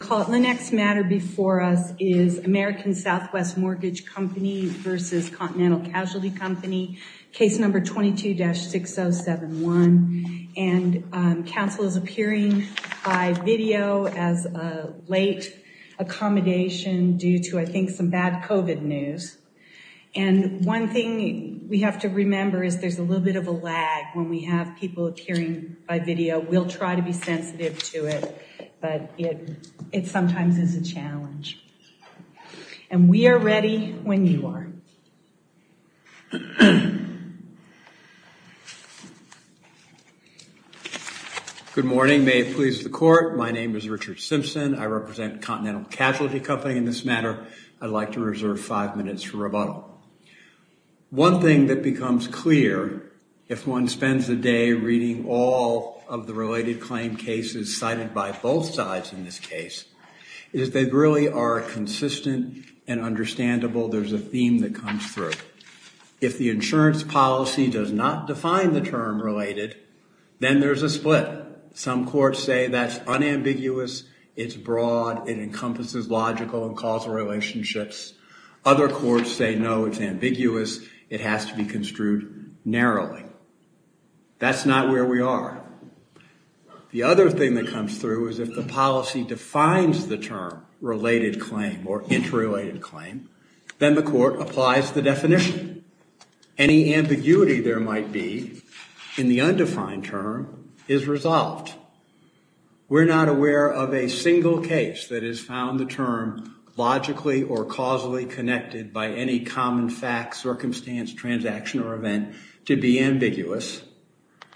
The next matter before us is American Southwest Mortgage Company v. Continental Casualty Company, case number 22-6071, and counsel is appearing by video as a late accommodation due to, I think, some bad COVID news. And one thing we have to remember is there's a little bit of a lag when we have people appearing by video. We'll try to be sensitive to it, but it sometimes is a challenge. And we are ready when you are. Good morning. May it please the Court. My name is Richard Simpson. I represent Continental Casualty Company in this matter. I'd like to reserve five minutes for rebuttal. One thing that becomes clear if one spends a day reading all of the related claim cases cited by both sides in this case is they really are consistent and understandable. There's a theme that comes through. If the insurance policy does not define the term related, then there's a split. Some courts say that's unambiguous, it's broad, it encompasses logical and causal relationships. Other courts say, no, it's ambiguous, it has to be construed narrowly. That's not where we are. The other thing that comes through is if the policy defines the term related claim or interrelated claim, then the court applies the definition. Any ambiguity there might be in the undefined term is resolved. We're not aware of a single case that has found the term logically or causally connected by any common fact, circumstance, transaction, or event to be ambiguous.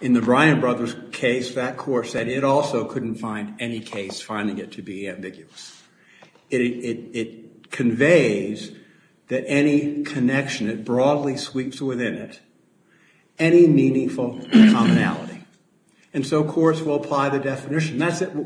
In the Bryan Brothers case, that court said it also couldn't find any case finding it to be ambiguous. It conveys that any connection, it broadly sweeps within it, any meaningful commonality. And so courts will apply the definition.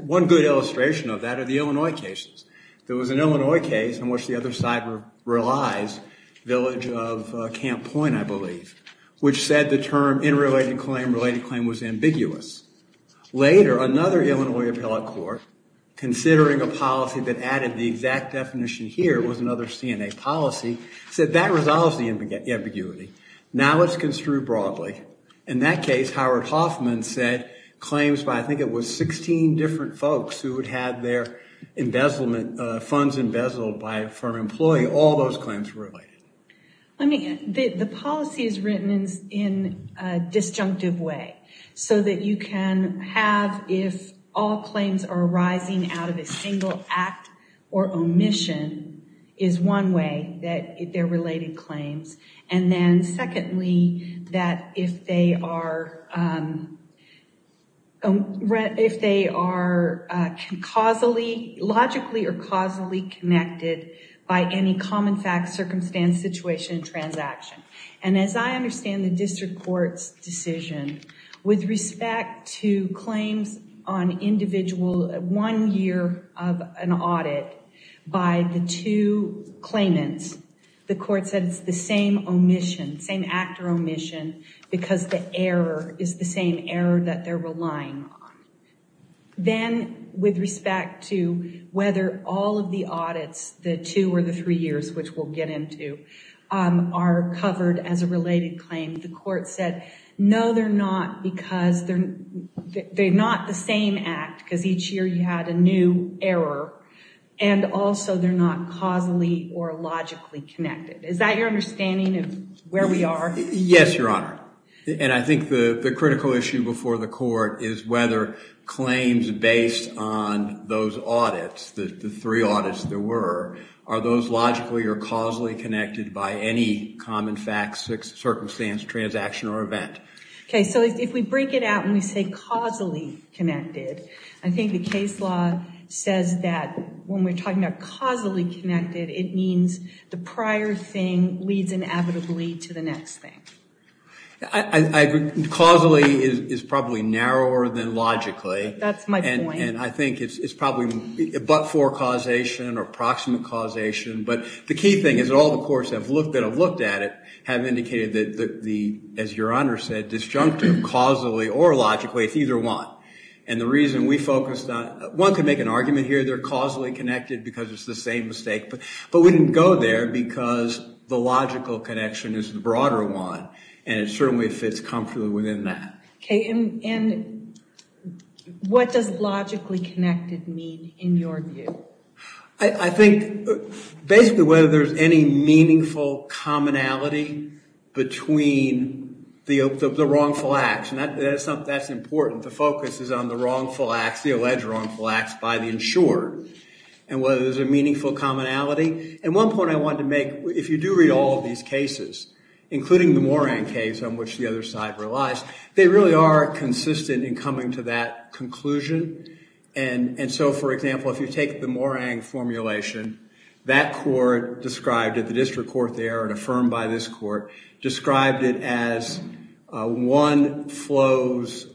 One good illustration of that are the Illinois cases. There was an Illinois case in which the other side relies, Village of Camp Point, I believe, which said the term interrelated claim, related claim was ambiguous. Later, another Illinois appellate court, considering a policy that added the exact definition here was another CNA policy, said that resolves the ambiguity. Now it's construed broadly. In that case, Howard Hoffman said claims by, I think it was 16 different folks who had had their embezzlement funds embezzled by a firm employee, all those claims were related. The policy is written in a disjunctive way so that you can have, if all claims are arising out of a single act or omission, is one way that they're related claims. And then secondly, that if they are logically or causally connected by any common fact, circumstance, situation, transaction. And as I understand the district court's decision, with respect to claims on individual one year of an audit, by the two claimants, the court said it's the same omission, same act or omission, because the error is the same error that they're relying on. Then with respect to whether all of the audits, the two or the three years, which we'll get into, are covered as a related claim, the court said, no, they're not because they're due error, and also they're not causally or logically connected. Is that your understanding of where we are? Yes, Your Honor. And I think the critical issue before the court is whether claims based on those audits, the three audits there were, are those logically or causally connected by any common fact, circumstance, transaction or event. So if we break it out and we say causally connected, I think the case law says that when we're talking about causally connected, it means the prior thing leads inevitably to the next thing. Causally is probably narrower than logically. That's my point. And I think it's probably but for causation or approximate causation. But the key thing is that all the courts that have looked at it have indicated that, as Your Honor said, disjunctive, causally or logically, it's either one. And the reason we focused on, one can make an argument here, they're causally connected because it's the same mistake. But we didn't go there because the logical connection is the broader one. And it certainly fits comfortably within that. Okay. And what does logically connected mean in your view? I think basically whether there's any meaningful commonality between the wrongful acts. And that's important. The focus is on the wrongful acts, the alleged wrongful acts by the insured. And whether there's a meaningful commonality. And one point I wanted to make, if you do read all of these cases, including the Moran case on which the other side relies, they really are consistent in coming to that conclusion. And so, for example, if you take the Morang formulation, that court described it, the district court there and a firm by this court, described it as one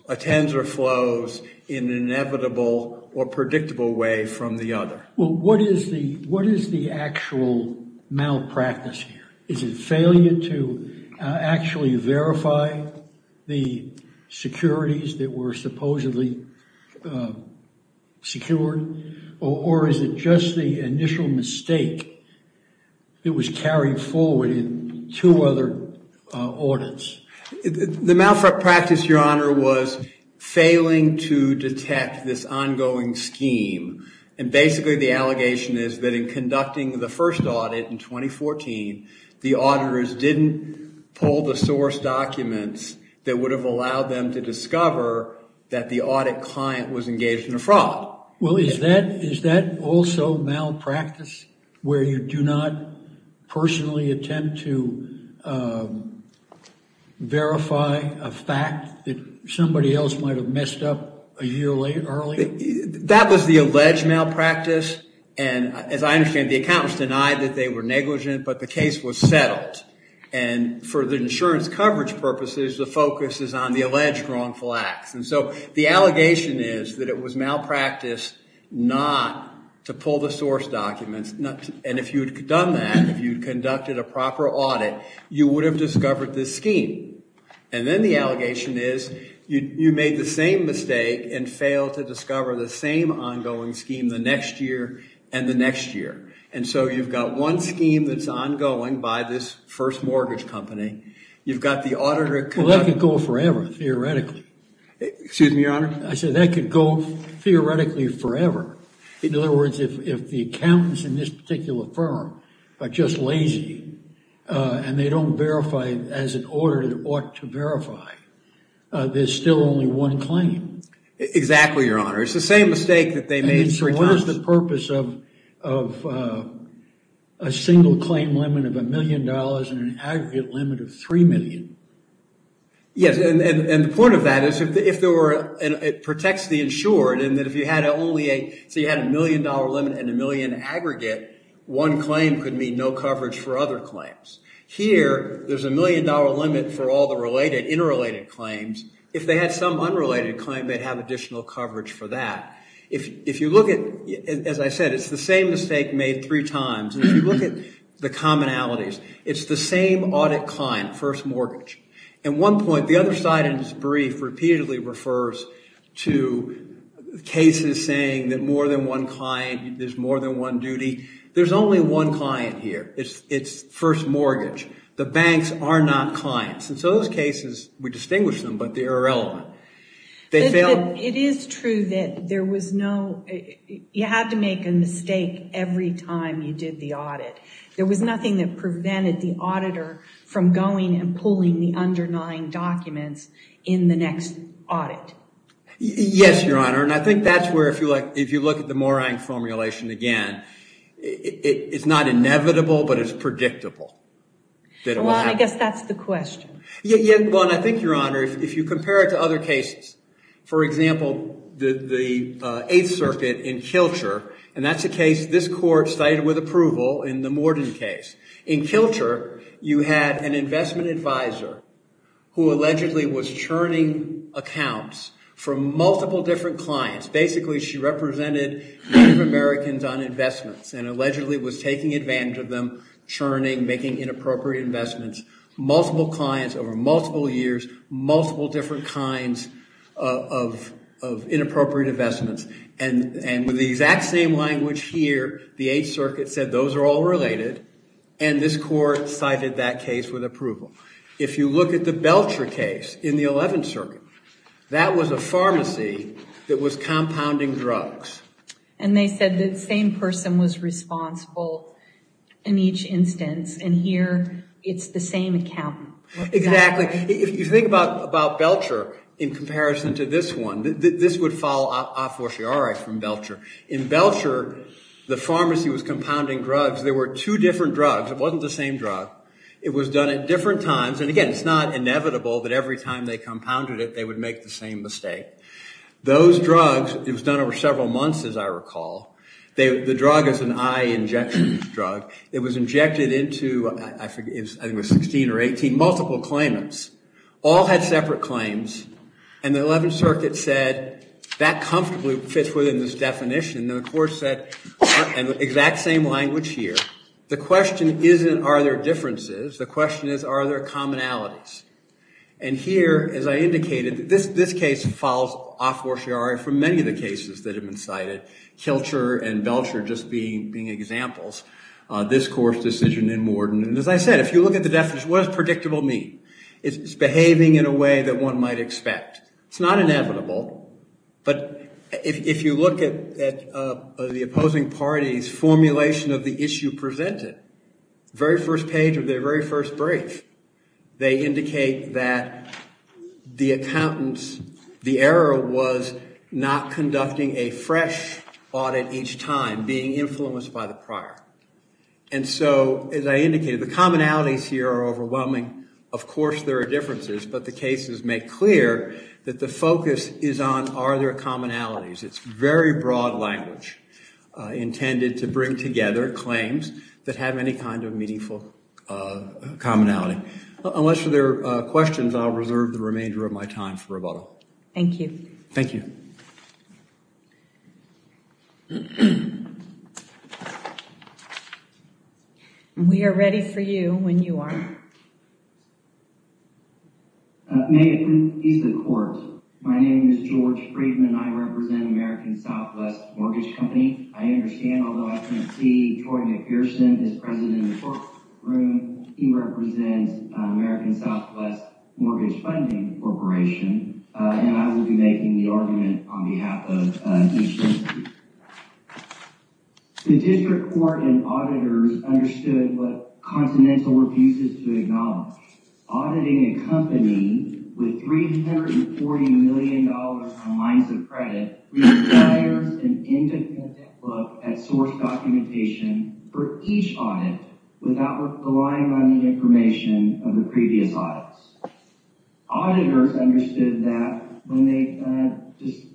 attends or flows in an inevitable or predictable way from the other. Well, what is the actual malpractice here? Is it failure to actually verify the securities that were supposedly secured? Or is it just the initial mistake that was carried forward in two other audits? The malpractice, your honor, was failing to detect this ongoing scheme. And basically the allegation is that in conducting the first audit in 2014, the auditors didn't pull the source documents that would have allowed them to discover that the audit client was engaged in a fraud. Well, is that also malpractice, where you do not personally attempt to verify a fact that somebody else might have messed up a year early? That was the alleged malpractice. And as I understand, the accountants denied that they were negligent. But the case was settled. And for the insurance coverage purposes, the focus is on the alleged wrongful acts. And so the allegation is that it was malpractice not to pull the source documents. And if you had done that, if you'd conducted a proper audit, you would have discovered this scheme. And then the allegation is you made the same mistake and failed to discover the same ongoing scheme the next year and the next year. And so you've got one scheme that's ongoing by this first mortgage company. You've got the auditor conducting it. Well, that could go forever, theoretically. Excuse me, Your Honor? I said that could go theoretically forever. In other words, if the accountants in this particular firm are just lazy and they don't verify as an order they ought to verify, there's still only one claim. Exactly, Your Honor. It's the same mistake that they made three times. What is the purpose of a single claim limit of $1 million and an aggregate limit of $3 million? Yes, and the point of that is it protects the insured. And so you had a $1 million limit and $1 million aggregate, one claim could mean no coverage for other claims. Here, there's a $1 million limit for all the interrelated claims. If they had some unrelated claim, they'd have additional coverage for that. If you look at, as I said, it's the same mistake made three times. And if you look at the commonalities, it's the same audit client, first mortgage. At one point, the other side of this brief repeatedly refers to cases saying that more than one client, there's more than one duty. There's only one client here. It's first mortgage. The banks are not clients. And so those cases, we distinguish them, but they're irrelevant. But it is true that there was no, you had to make a mistake every time you did the audit. There was nothing that prevented the auditor from going and pulling the underlying documents in the next audit. Yes, Your Honor, and I think that's where, if you look at the Morang formulation again, it's not inevitable, but it's predictable. Well, I guess that's the question. Yeah, well, and I think, Your Honor, if you compare it to other cases, for example, the Eighth Circuit in Kilcher, and that's a case this court cited with approval in the Morden case. In Kilcher, you had an investment advisor who allegedly was churning accounts from multiple different clients. Basically, she represented Native Americans on investments and allegedly was taking advantage of them, churning, making inappropriate investments. Multiple clients over multiple years, multiple different kinds of inappropriate investments. And with the exact same language here, the Eighth Circuit said, those are all related, and this court cited that case with approval. If you look at the Belcher case in the Eleventh Circuit, that was a pharmacy that was compounding drugs. And they said the same person was responsible in each instance. And here, it's the same accountant. Exactly. If you think about Belcher in comparison to this one, this would follow a fortiori from Belcher. In Belcher, the pharmacy was compounding drugs. There were two different drugs. It wasn't the same drug. It was done at different times. And again, it's not inevitable that every time they compounded it, they would make the same mistake. Those drugs, it was done over several months, as I recall. The drug is an eye injections drug. It was injected into, I think it was 16 or 18, multiple claimants. All had separate claims. And the Eleventh Circuit said, that comfortably fits within this definition. And the court said, in the exact same language here, the question isn't, are there differences? The question is, are there commonalities? And here, as I indicated, this case follows a fortiori from many of the cases that have been cited, Kilcher and Belcher just being examples. This court's decision in Morden, and as I said, if you look at the definition, what does predictable mean? It's behaving in a way that one might expect. It's not inevitable. But if you look at the opposing party's formulation of the issue presented, very first page of their very first brief, they indicate that the accountants, the error was not conducting a fresh audit each time, being influenced by the prior. And so, as I indicated, the commonalities here are overwhelming. Of course there are differences, but the cases make clear that the focus is on, are there commonalities? It's very broad language intended to bring together claims that have any kind of meaningful commonality. Unless there are questions, I'll reserve the remainder of my time for rebuttal. Thank you. Thank you. We are ready for you when you are. May it please the court. My name is George Friedman. I represent American Southwest Mortgage Company. I understand, although I can see Georgia Pearson, his president in the courtroom, he represents American Southwest Mortgage Funding Corporation, and I will be making the argument on behalf of each entity. The district court and auditors understood what continental refuse is to acknowledge. Auditing a company with $340 million on lines of credit requires an independent look at source documentation for each audit without relying on the information of the previous audits. Auditors understood that when they just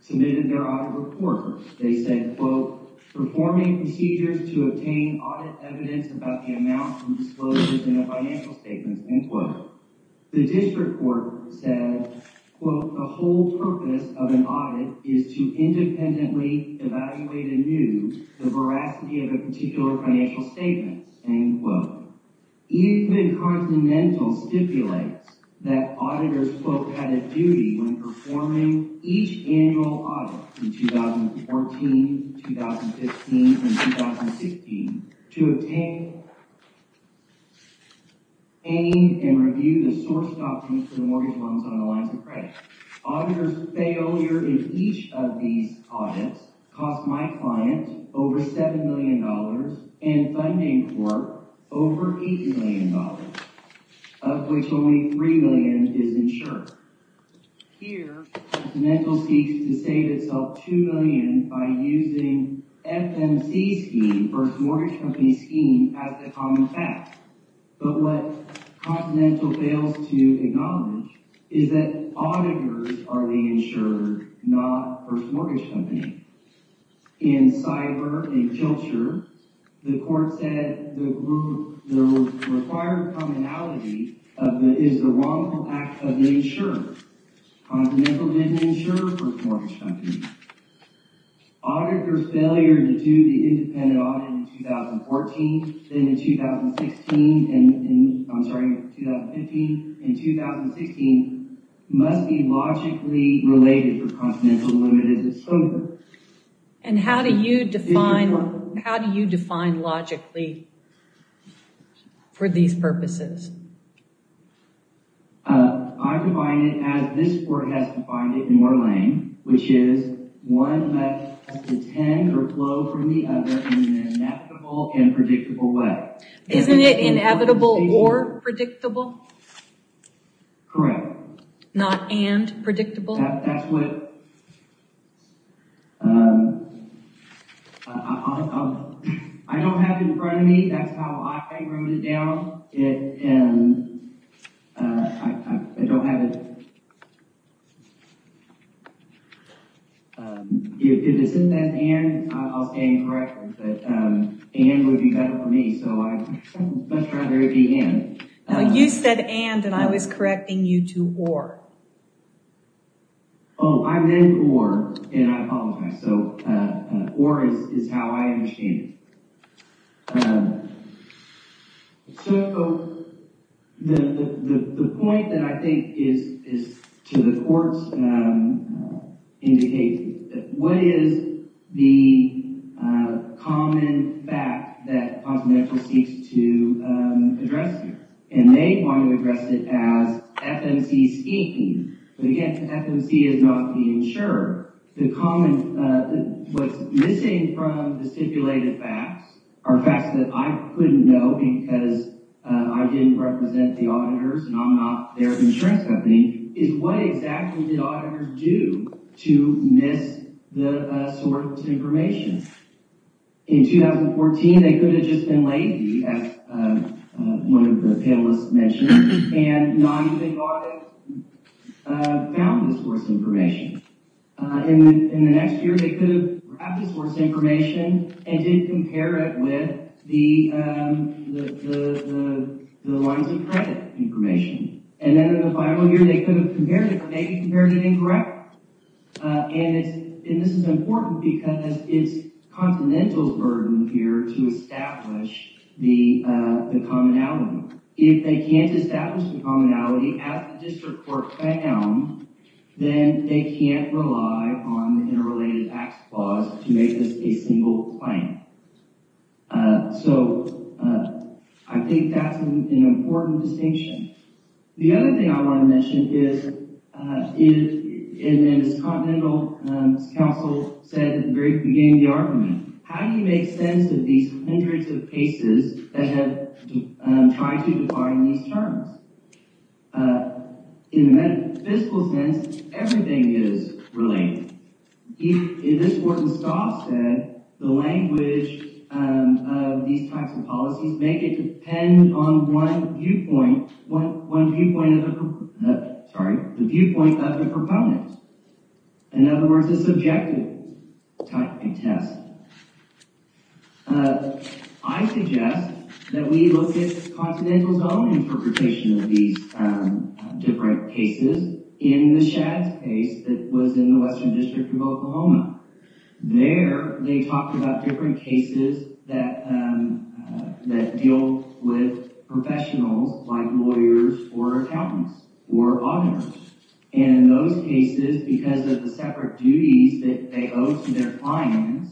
submitted their audit report, they said, quote, performing procedures to obtain audit evidence about the amounts and disclosures in the financial statements, end quote. The district court said, quote, the whole purpose of an audit is to independently evaluate anew the veracity of a particular financial statement, end quote. Eastman Continental stipulates that auditors, quote, had a duty when performing each annual audit in 2014, 2015, and 2016 to obtain and review the source documents for the mortgage loans on the lines of credit. Auditors' failure in each of these audits cost my client over $7 million, and funding court over $80 million, of which only $3 million is insured. Here, Continental seeks to save itself $2 million by using FMC scheme versus mortgage company scheme as the common fact. But what Continental fails to acknowledge is that auditors are the insured, not versus mortgage company. In Cyber and Jilture, the court said the required commonality is the wrongful act of the insurer. Continental did not insure for mortgage companies. Auditors' failure to do the independent audit in 2014, then in 2016, and I'm sorry, 2015, and 2016 must be logically related to Continental as the limit is it's over. And how do you define logically for these purposes? I define it as this court has defined it in Orlain, which is one has to tend or flow from the other in an inevitable and predictable way. Isn't it inevitable or predictable? Correct. Not and predictable? That's what I don't have in front of me. That's how I wrote it down. If it isn't an and, I'll stand corrected. But and would be better for me. So I'd much rather it be and. Now you said and, and I was correcting you to or. Oh, I meant or, and I apologize. So or is how I understand it. So the point that I think is to the court's indication, what is the common fact that Continental seeks to address here? And they want to address it as FMC speaking. But again, FMC is not the insurer. The common, what's missing from the stipulated facts are facts that I couldn't know because I didn't represent the auditors and I'm not their insurance company, is what exactly did auditors do to miss the source information? In 2014, they could have just been late, as one of the panelists mentioned. And not even thought it, found the source information. In the next year, they could have grabbed the source information and did compare it with the lines of credit information. And then in the final year, they could have compared it or maybe compared it incorrectly. And it's, and this is important because it's Continental's burden here to establish the commonality. If they can't establish the commonality as the district court found, then they can't rely on the interrelated acts clause to make this a single claim. So I think that's an important distinction. The other thing I want to mention is in this Continental, as counsel said at the very beginning of the argument, how do you make sense of these hundreds of cases that have tried to define these terms? In the fiscal sense, everything is related. In this work, as Scott said, the language of these types of policies make it depend on one viewpoint, one viewpoint of the, sorry, the viewpoint of the proponent. In other words, the subjective type of test. I suggest that we look at Continental's own interpretation of these different cases. In the Shad's case that was in the Western District of Oklahoma, there they talked about different cases that deal with professionals like lawyers or accountants or auditors. In those cases, because of the separate duties that they owe to their clients,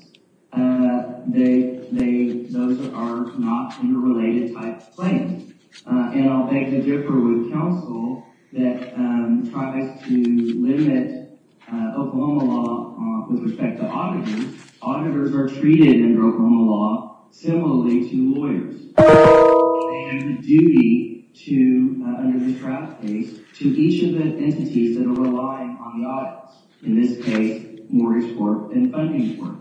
those are not interrelated type of claims. And I'll beg to differ with counsel that tries to limit Oklahoma law with respect to auditors. Auditors are treated in Oklahoma law similarly to lawyers. They have a duty to, under the Shad's case, to each of the entities that are relying on the auditors. In this case, mortgage court and funding court.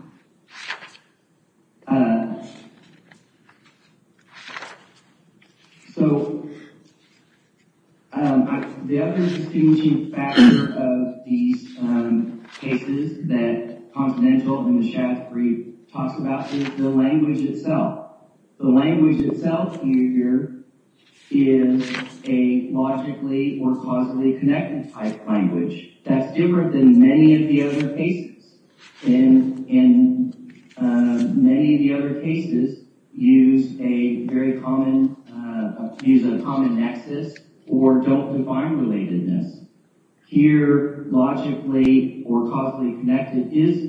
So the other distinct factor of these cases that Continental in the Shad's brief talks about is the language itself. The language itself, you hear, is a logically or causally connected type of language. That's different than many of the other cases. And in many of the other cases use a very common, use a common nexus or don't define relatedness. Here, logically or causally connected is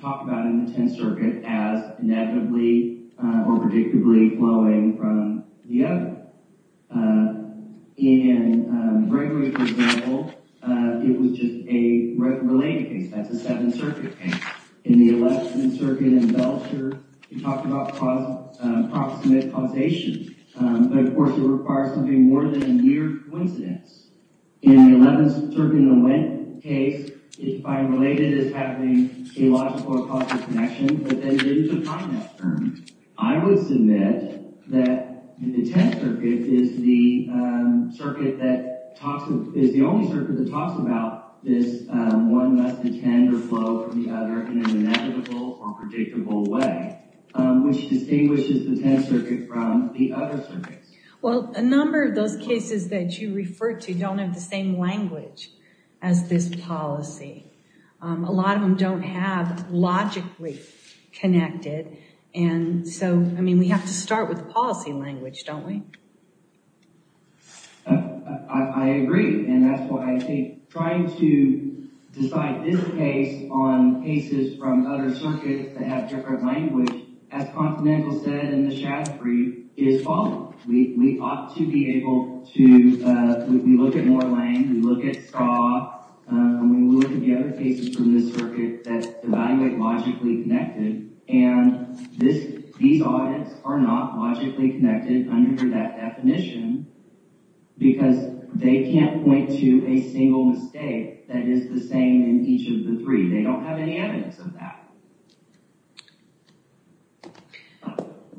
talked about in the 10th Circuit as inevitably or predictably flowing from the other. In Gregory's example, it was just a related case. That's a 7th Circuit case. In the 11th Circuit in Belcher, he talked about proximate causation. But of course, it requires something more than a mere coincidence. In the 11th Circuit in the Wendt case, it's defined related as having a logical or causally connection. But then there's a primal term. I would submit that the 10th Circuit is the only circuit that talks about this one must intend or flow from the other in an inevitable or predictable way, which distinguishes the 10th Circuit from the other circuits. Well, a number of those cases that you referred to don't have the same language as this policy. A lot of them don't have logically connected. And so, I mean, we have to start with the policy language, don't we? I agree. And that's why I think trying to decide this case on cases from other circuits that have different language, as Continental said in the Shad 3, is wrong. We ought to be able to look at Moreland, we look at Ska, we look at the other cases from this circuit that evaluate logically connected. And these audits are not logically connected under that definition because they can't point to a single mistake that is the same in each of the three. They don't have any evidence of that.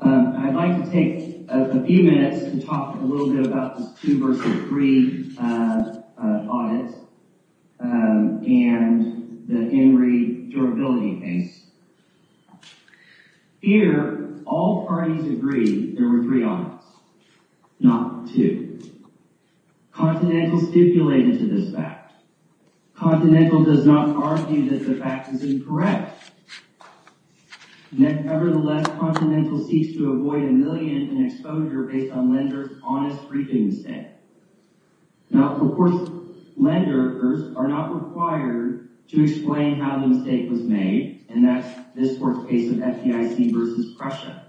I'd like to take a few minutes to talk a little bit about this two versus three audit and the Henry durability case. Here, all parties agree there were three audits, not two. Continental stipulated to this fact. Continental does not argue that the fact is incorrect. Nevertheless, Continental seeks to avoid a million in exposure based on lender's honest briefing mistake. Now, of course, lenders are not required to explain how the mistake was made, and that's this work case of FDIC versus Prussia.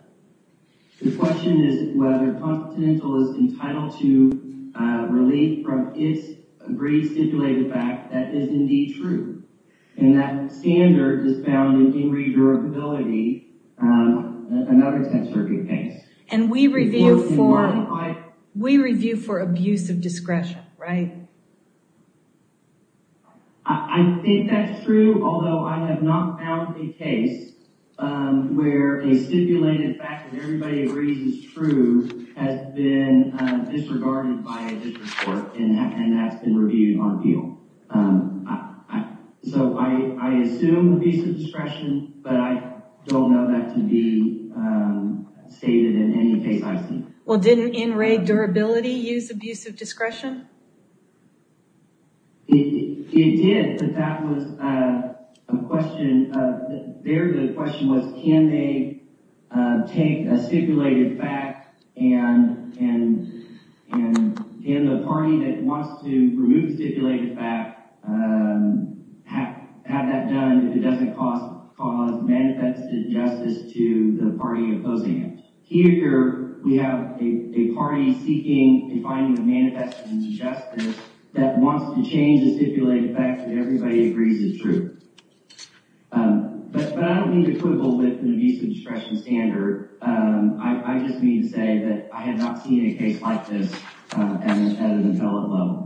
The question is whether Continental is entitled to relief from its agreed stipulated fact that is indeed true. And that standard is found in Henry durability, another 10 circuit case. And we review for abuse of discretion, right? I think that's true, although I have not found a case where a stipulated fact that everybody agrees is true has been disregarded by a different court, and that's been reviewed on appeal. So I assume abuse of discretion, but I don't know that to be stated in any case I've seen. Well, didn't in Ray durability use abuse of discretion? It did, but that was a question of their question was, can they take a stipulated fact and in the party that wants to remove stipulated fact have that done if it doesn't cause manifested injustice to the party opposing it? Here, we have a party seeking and finding a manifested injustice that wants to change the stipulated fact that everybody agrees is true. But I don't mean to quibble with an abuse of discretion standard. I just mean to say that I have not seen a case like this at an appellate level.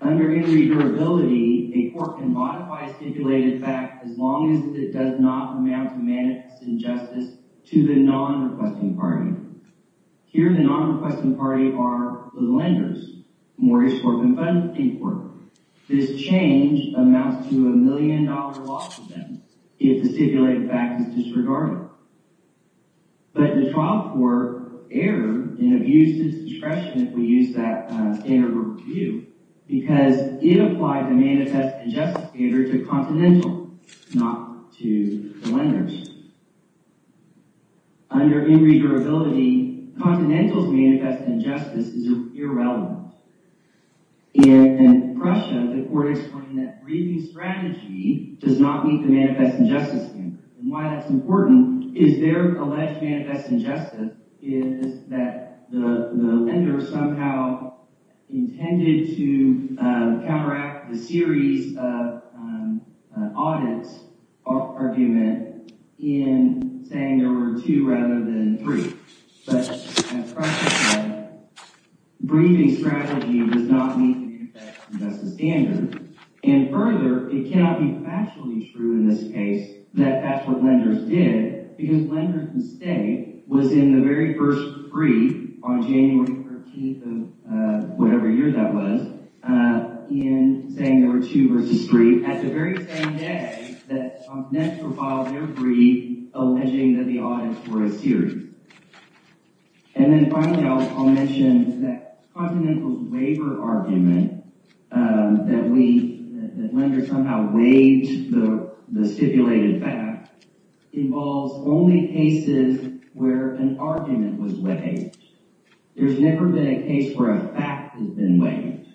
Under any durability, a court can modify stipulated fact as long as it does not amount to manifest injustice to the non-requesting party. Here, the non-requesting party are the lenders, Morris Court and Fenton Court. This change amounts to a million dollar loss to them if the stipulated fact is disregarded. But the trial court erred in abuse of discretion if we use that standard review because it applied the manifest injustice standard to Continental, not to the lenders. Under any durability, Continental's manifest injustice is irrelevant. In Prussia, the court explained that breathing strategy does not meet the manifest injustice standard. Why that's important is their alleged manifest injustice is that the lender somehow intended to counteract the series of audits argument in saying there were two rather than three. But as Prussia said, breathing strategy does not meet the manifest injustice standard. And further, it cannot be factually true in this case that that's what lenders did because lenders' mistake was in the very first brief on January 13th of whatever year that was in saying there were two versus three at the very same day that Continental filed their brief alleging that the audits were a series. Another argument that lenders somehow waived the stipulated fact involves only cases where an argument was waived. There's never been a case where a fact has been waived.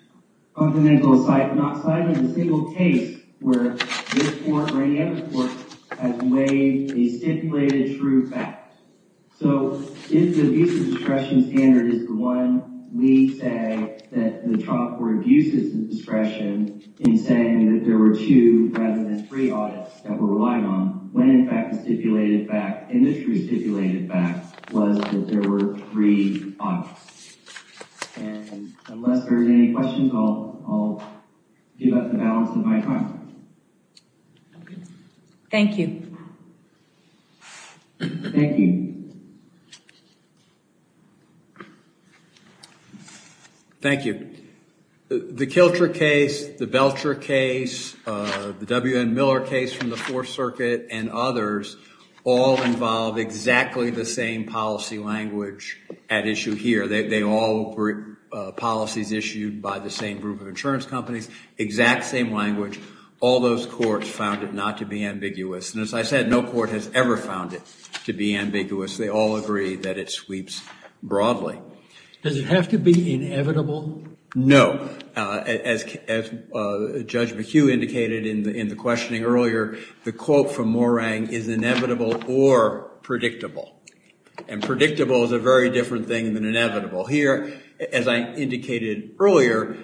Continental has not cited a single case where this court or any other court has waived a stipulated true fact. So if the abuse of discretion standard is the one we say that the trial court abuses the discretion in saying that there were two rather than three audits that were relied on when, in fact, the industry stipulated fact was that there were three audits. And unless there's any questions, I'll give up the balance of my time. Thank you. Thank you. Thank you. The Kilcher case, the Belcher case, the W.N. Miller case from the Fourth Circuit, and others all involve exactly the same policy language at issue here. They all were policies issued by the same group of insurance companies, exact same language. All those courts found it not to be ambiguous. And as I said, no court has ever found it to be ambiguous. They all agree that it sweeps broadly. Does it have to be inevitable? No. As Judge McHugh indicated in the questioning earlier, the quote from Morang is inevitable or predictable. And predictable is a very different thing than inevitable. Here, as I indicated earlier,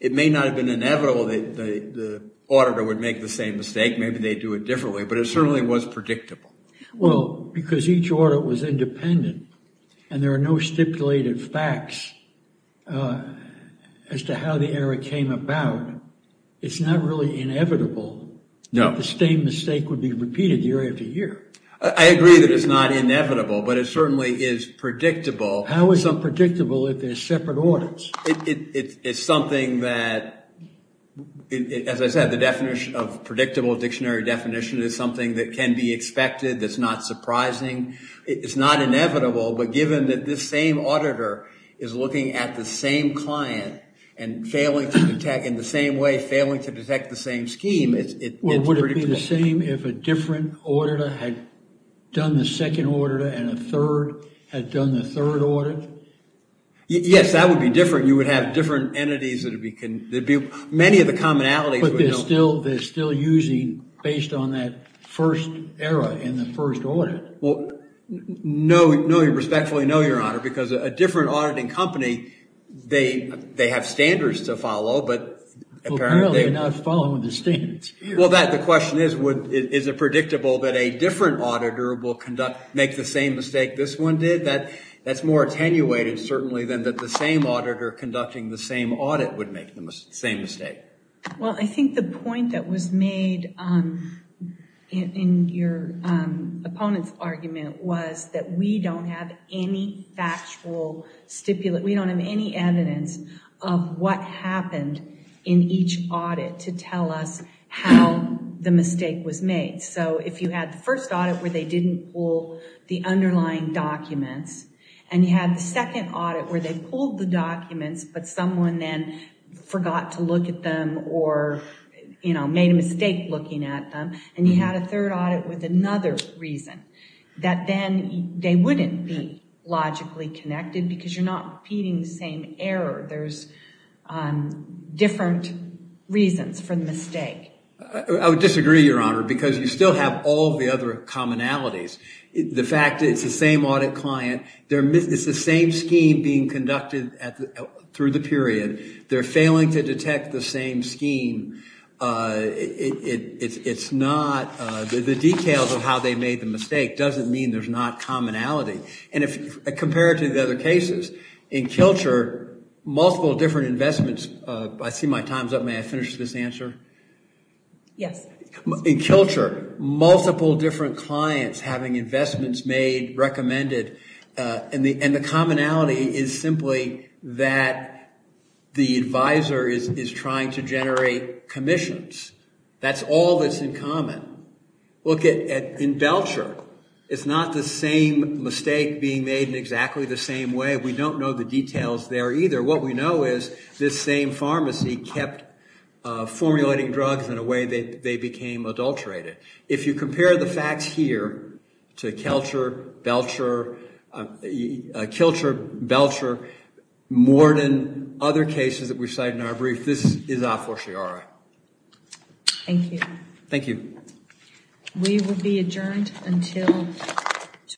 it may not have been inevitable that the auditor would make the same mistake. Maybe they do it differently. But it certainly was predictable. Well, because each audit was independent, and there are no stipulated facts as to how the error came about, it's not really inevitable that the same mistake would be repeated year after year. I agree that it's not inevitable, but it certainly is predictable. How is unpredictable if there's separate audits? It's something that, as I said, the definition of predictable dictionary definition is something that can be expected, that's not surprising. It's not inevitable. But given that this same auditor is looking at the same client and failing to detect in the same way, failing to detect the same scheme, it's pretty predictable. Would it be the same if a different auditor had done the second auditor and a third had done the third audit? Yes, that would be different. You would have different entities. Many of the commonalities would be different. But they're still using based on that first error in the first audit. No, respectfully, no, Your Honor. Because a different auditing company, they have standards to follow. But apparently, they're not following the standards. Well, the question is, is it predictable that a different auditor will make the same mistake this one did? That's more attenuated, certainly, than that the same auditor conducting the same audit would make the same mistake. Well, I think the point that was made in your opponent's argument was that we don't have any factual stipulate. We don't have any evidence of what happened in each audit to tell us how the mistake was made. So if you had the first audit where they didn't pull the underlying documents, and you had the second audit where they pulled the documents, but someone then forgot to look at them or made a mistake looking at them, and you had a third audit with another reason, that then they wouldn't be logically connected, because you're not repeating the same error. There's different reasons for the mistake. I would disagree, Your Honor, because you still have all the other commonalities. The fact that it's the same audit client, it's the same scheme being conducted through the period, they're failing to detect the same scheme, the details of how they made the mistake doesn't mean there's not commonality. And compared to the other cases, in Kilcher, multiple different investments, I see my time's up. May I finish this answer? Yes. In Kilcher, multiple different clients having investments made, recommended, and the commonality is simply that the advisor is trying to generate commissions. That's all that's in common. Look at in Belcher. It's not the same mistake being made in exactly the same way. We don't know the details there either. What we know is this same pharmacy kept formulating drugs in a way that they became adulterated. If you compare the facts here to Kilcher, Belcher, more than other cases that we've cited in our brief, this is a fortiori. Thank you. Thank you. We will be adjourned until tomorrow.